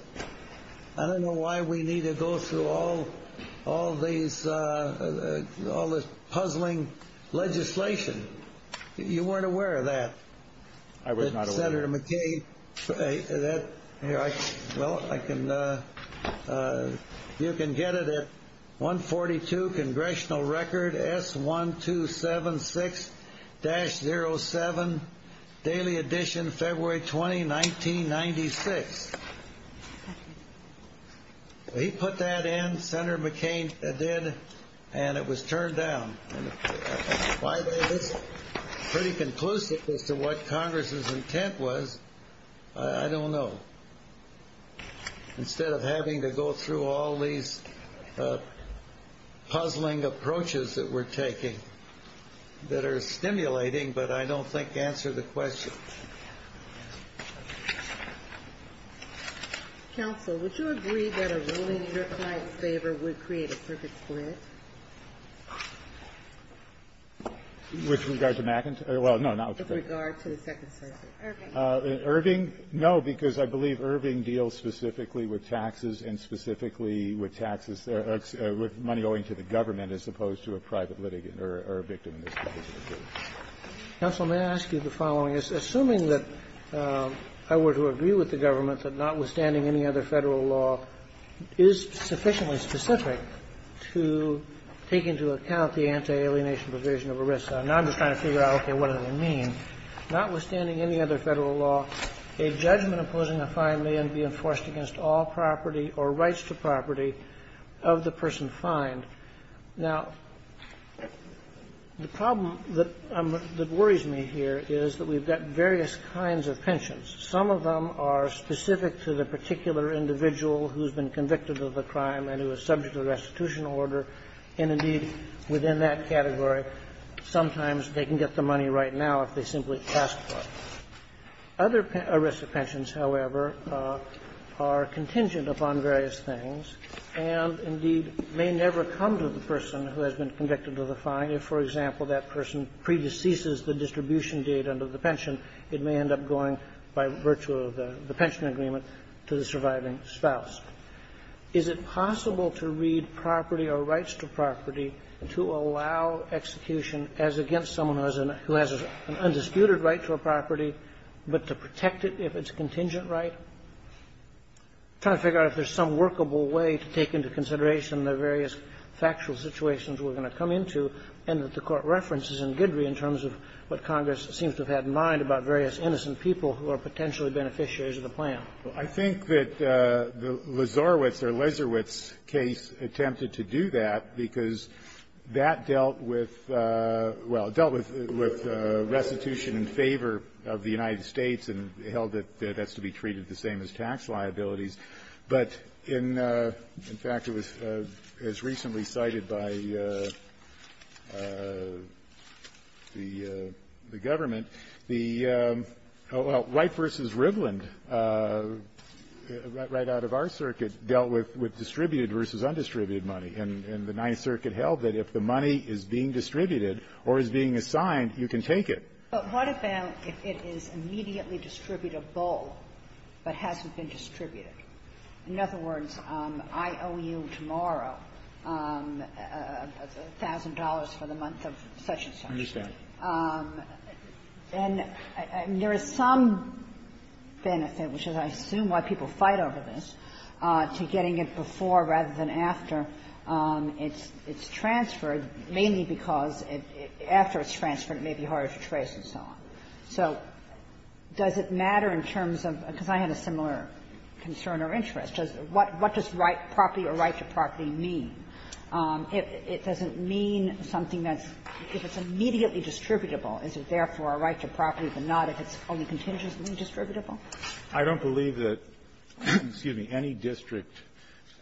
I don't know why we need to go through all these ---- all this puzzling legislation. You weren't aware of that? I was not aware. Senator McCain, that ---- well, I can ---- you can get it at 142 Congressional Record S1276-07, Daily Edition, February 20, 1996. He put that in, Senator McCain did, and it was turned down. And why that is pretty conclusive as to what Congress's intent was, I don't know. Instead of having to go through all these puzzling approaches that we're taking that are stimulating, but I don't think answer the question. Counsel, would you agree that a ruling in your client's favor would create a perfect split? With regard to McIntosh? Well, no, not with regard to the Second Circuit. Irving? No, because I believe Irving deals specifically with taxes and specifically with taxes or with money owing to the government as opposed to a private litigant or a victim in this case. Counsel, may I ask you the following? Assuming that I were to agree with the government that notwithstanding any other Federal law is sufficiently specific to take into account the anti-alienation provision of ERISA, and I'm just trying to figure out, okay, what does it mean, notwithstanding any other Federal law, a judgment imposing a fine may not be enforced against all property or rights to property of the person fined. Now, the problem that worries me here is that we've got various kinds of pensions. Some of them are specific to the particular individual who's been convicted of the crime and who is subject to restitution order, and indeed, within that category, sometimes they can get the money right now if they simply ask for it. Other ERISA pensions, however, are contingent upon various things and indeed may never come to the person who has been convicted of the fine if, for example, that person predeceases the distribution date under the pension. It may end up going, by virtue of the pension agreement, to the surviving spouse. Is it possible to read property or rights to property to allow execution as against someone who has an undisputed right to a property, but to protect it if it's a contingent right? I'm trying to figure out if there's some workable way to take into consideration the various factual situations we're going to come into and that the Court references in Guidry in terms of what Congress seems to have had in mind about various innocent people who are potentially beneficiaries of the plan. I think that the Lazarowitz or Lezarowitz case attempted to do that because that dealt with, well, dealt with restitution in favor of the United States and held that that's to be treated the same as tax liabilities. But in fact, it was as recently cited by the government, the right versus Rivland right out of our circuit dealt with distributed versus undistributed money. And the Ninth Circuit held that if the money is being distributed or is being assigned, you can take it. But what about if it is immediately distributable, but hasn't been distributed? In other words, I owe you tomorrow $1,000 for the month of such and such. I understand. And there is some benefit, which is I assume why people fight over this, to getting it before rather than after it's transferred, mainly because after it's transferred it may be harder to trace and so on. So does it matter in terms of – because I had a similar concern or interest. What does right property or right to property mean? It doesn't mean something that's – if it's immediately distributable, is it therefore a right to property, but not if it's only contingently distributable? I don't believe that any district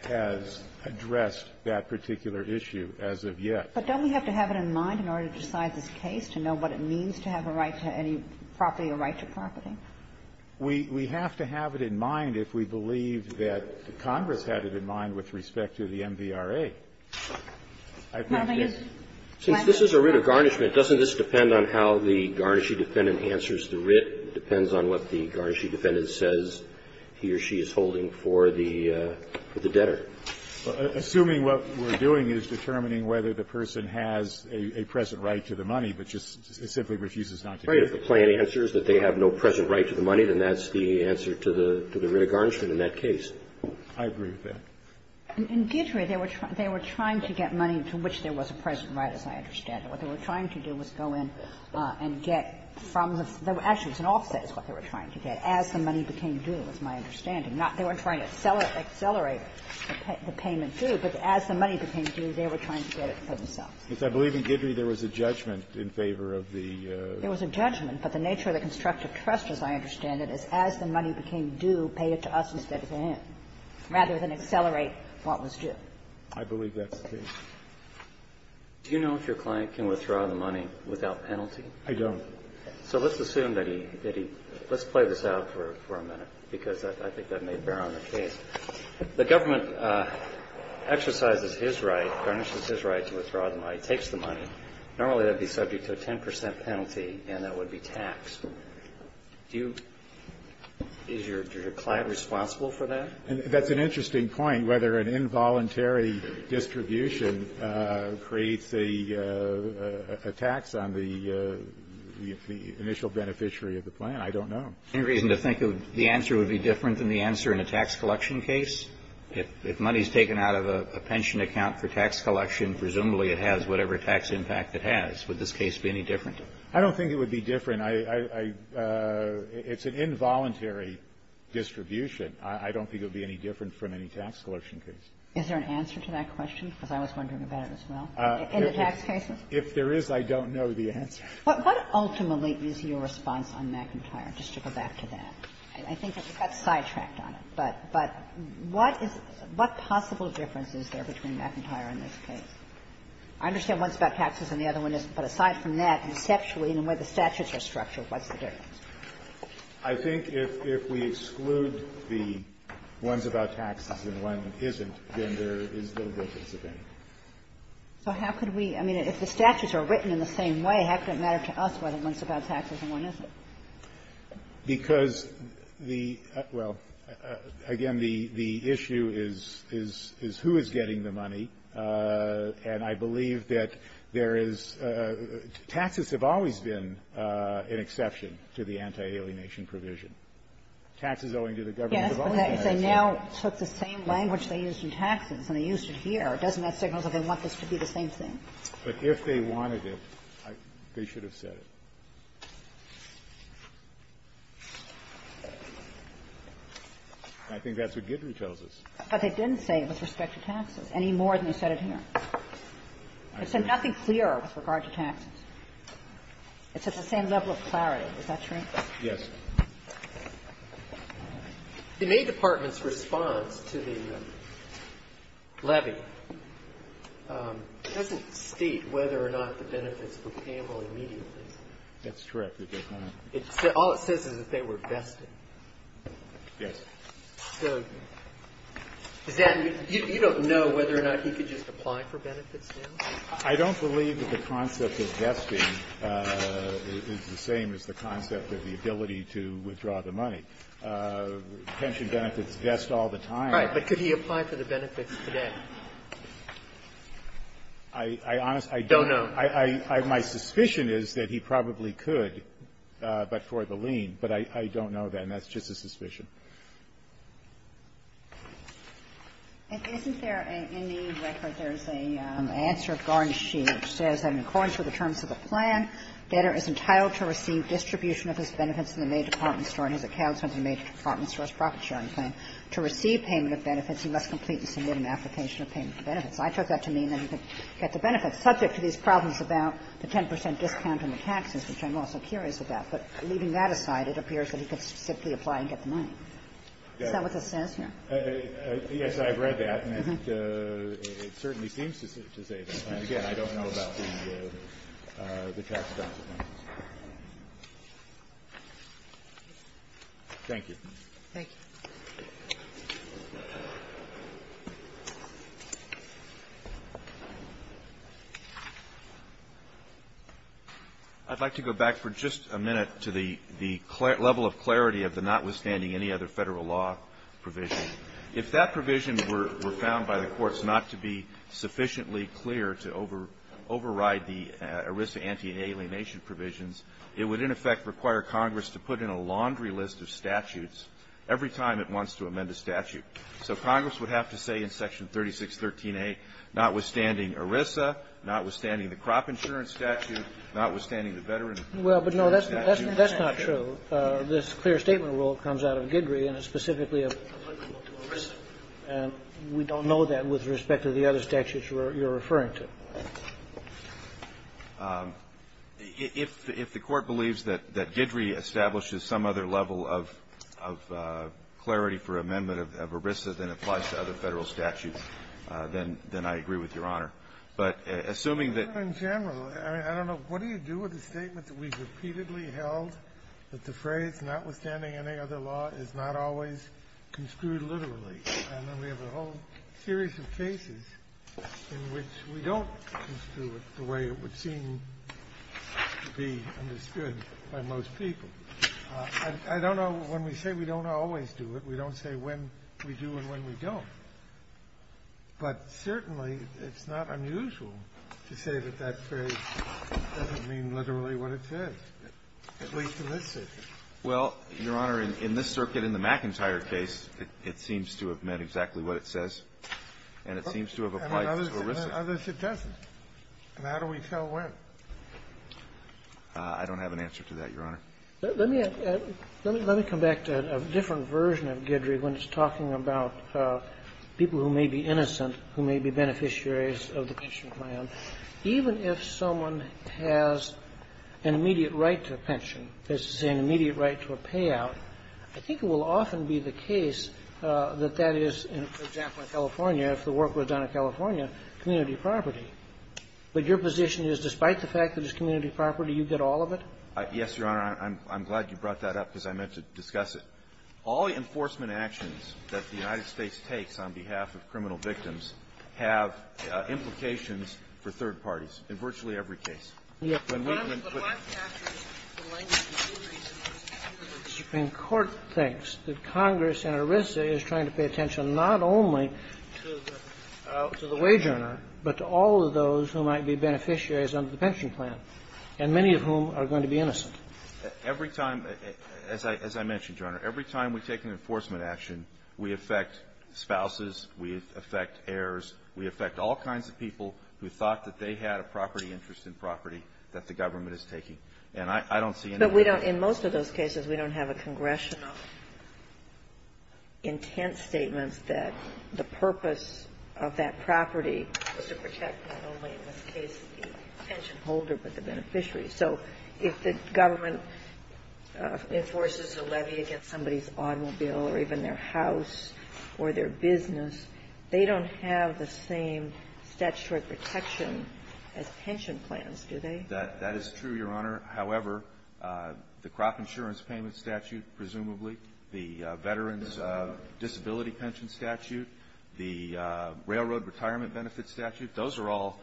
has addressed that particular issue as of yet. But don't we have to have it in mind in order to decide this case, to know what it means to have a right to any property or right to property? We have to have it in mind if we believe that Congress had it in mind with respect to the MVRA. I've not yet – Since this is a writ of garnishment, doesn't this depend on how the garnished defendant answers the writ? It depends on what the garnished defendant says he or she is holding for the debtor. Assuming what we're doing is determining whether the person has a present right to the money, but just simply refuses not to do it. Right. If the plain answer is that they have no present right to the money, then that's the answer to the writ of garnishment in that case. I agree with that. In Gietry, they were trying to get money to which there was a present right, as I understand it. What they were trying to do was go in and get from the – actually, it was an offset is what they were trying to get, as the money became due, is my understanding. They weren't trying to accelerate the payment due, but as the money became due, they were trying to get it for themselves. Yes. I believe in Gietry there was a judgment in favor of the – There was a judgment, but the nature of the constructive trust, as I understand it, is as the money became due, pay it to us instead of him, rather than accelerate what was due. I believe that's the case. Do you know if your client can withdraw the money without penalty? I don't. So let's assume that he – let's play this out for a minute, because I think that may bear on the case. The government exercises his right, garnishes his right to withdraw the money, takes the money. Normally, that would be subject to a 10 percent penalty, and that would be taxed. Do you – is your client responsible for that? That's an interesting point, whether an involuntary distribution creates a tax on the initial beneficiary of the plan. I don't know. Any reason to think the answer would be different than the answer in a tax collection case? If money is taken out of a pension account for tax collection, presumably it has whatever tax impact it has. Would this case be any different? I don't think it would be different. I – it's an involuntary distribution. I don't think it would be any different from any tax collection case. Is there an answer to that question? Because I was wondering about it as well. In the tax cases? If there is, I don't know the answer. What ultimately is your response on McIntyre, just to go back to that? I think that we got sidetracked on it, but what is – what possible difference is there between McIntyre and this case? I understand one's about taxes and the other one isn't, but aside from that, conceptually in the way the statutes are structured, what's the difference? I think if we exclude the one's about taxes and one isn't, then there is no difference of any. So how could we – I mean, if the statutes are written in the same way, how could it matter to us whether one's about taxes and one isn't? Because the – well, again, the issue is who is getting the money, and I believe that there is – taxes have always been an exception to the anti-alienation provision. Taxes owing to the government of other countries. Yes, but they now took the same language they used in taxes, and they used it here. Doesn't that signal that they want this to be the same thing? But if they wanted it, they should have said it. I think that's what Guidry tells us. But they didn't say it was with respect to taxes any more than they said it here. They said nothing clearer with regard to taxes. It's at the same level of clarity. Is that true? Yes. The May Department's response to the levy doesn't state whether or not the benefits were payable immediately. That's correct. It does not. All it says is that they were vested. Yes. So does that mean – you don't know whether or not he could just apply for benefits now? I don't believe that the concept of vesting is the same as the concept of the ability to withdraw the money. Pension benefits vest all the time. Right. But could he apply for the benefits today? I honestly don't know. My suspicion is that he probably could, but for the lien. But I don't know, and that's just a suspicion. And isn't there a – in the record, there's a answer of Garnes-Shea which says that in accordance with the terms of the plan, debtor is entitled to receive distribution of his benefits in the May Department Store and his accounts in the May Department Store's profit-sharing plan. To receive payment of benefits, he must complete and submit an application of payment of benefits. I took that to mean that he could get the benefits, subject to these problems about the 10 percent discount on the taxes, which I'm also curious about. But leaving that aside, it appears that he could simply apply and get the money. Is that what this says here? Yes, I've read that, and it certainly seems to say that. And again, I don't know about the tax-adopted ones. Thank you. Thank you. I'd like to go back for just a minute to the level of clarity of the notwithstanding any other Federal law provision. If that provision were found by the courts not to be sufficiently clear to override the ERISA anti-alienation provisions, it would, in effect, require Congress to put in a laundry list of statutes every time it wants to amend a statute. So Congress would have to say in Section 3613a, notwithstanding ERISA, notwithstanding the crop insurance statute, notwithstanding the veteran statute. Well, but, no, that's not true. This clear statement rule comes out of Guidry, and it's specifically applicable to ERISA. And we don't know that with respect to the other statutes you're referring to. If the Court believes that Guidry establishes some other level of clarity for amendment of ERISA than applies to other Federal statutes, then I agree with Your Honor. we have a whole series of cases in which we don't know that the statement that we repeatedly held that the phrase notwithstanding any other law is not always construed literally. And then we have a whole series of cases in which we don't construe it the way it would seem to be understood by most people. I don't know when we say we don't always do it. We don't say when we do and when we don't. But certainly it's not unusual to say that that phrase doesn't mean literally what it says, at least in this circuit. Well, Your Honor, in this circuit, in the McIntyre case, it seems to have meant exactly what it says, and it seems to have applied to ERISA. And in others it doesn't. And how do we tell when? I don't have an answer to that, Your Honor. Let me come back to a different version of Guidry when it's talking about people who may be innocent, who may be beneficiaries of the pension plan. Even if someone has an immediate right to a pension, as to say an immediate right to a payout, I think it will often be the case that that is, for example, in California, if the work was done in California, community property. But your position is despite the fact that it's community property, you get all of it? Yes, Your Honor. I'm glad you brought that up because I meant to discuss it. All the enforcement actions that the United States takes on behalf of criminal victims have implications for third parties in virtually every case. The Supreme Court thinks that Congress and ERISA is trying to pay attention not only to the wage earner, but to all of those who might be beneficiaries under the pension plan, and many of whom are going to be innocent. Every time, as I mentioned, Your Honor, every time we take an enforcement action, we affect spouses, we affect heirs, we affect all kinds of people who thought that they had a property interest in property that the government is taking. And I don't see any other way to do it. But we don't – in most of those cases, we don't have a congressional intent statement that the purpose of that property was to protect not only in this case the pension holder, but the beneficiary. So if the government enforces a levy against somebody's automobile or even their house or their business, they don't have the same statutory protection as pension plans, do they? That is true, Your Honor. However, the crop insurance payment statute, presumably, the veterans' disability pension statute, the railroad retirement benefit statute, those are all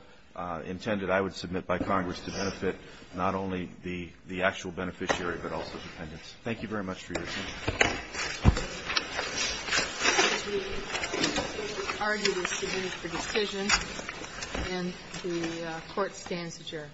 intended, I would submit, by Congress to benefit not only the actual beneficiary, but also dependents. Thank you very much for your attention. Thank you, Mr. Chief Justice. The argument is submitted for decision, and the Court stands adjourned.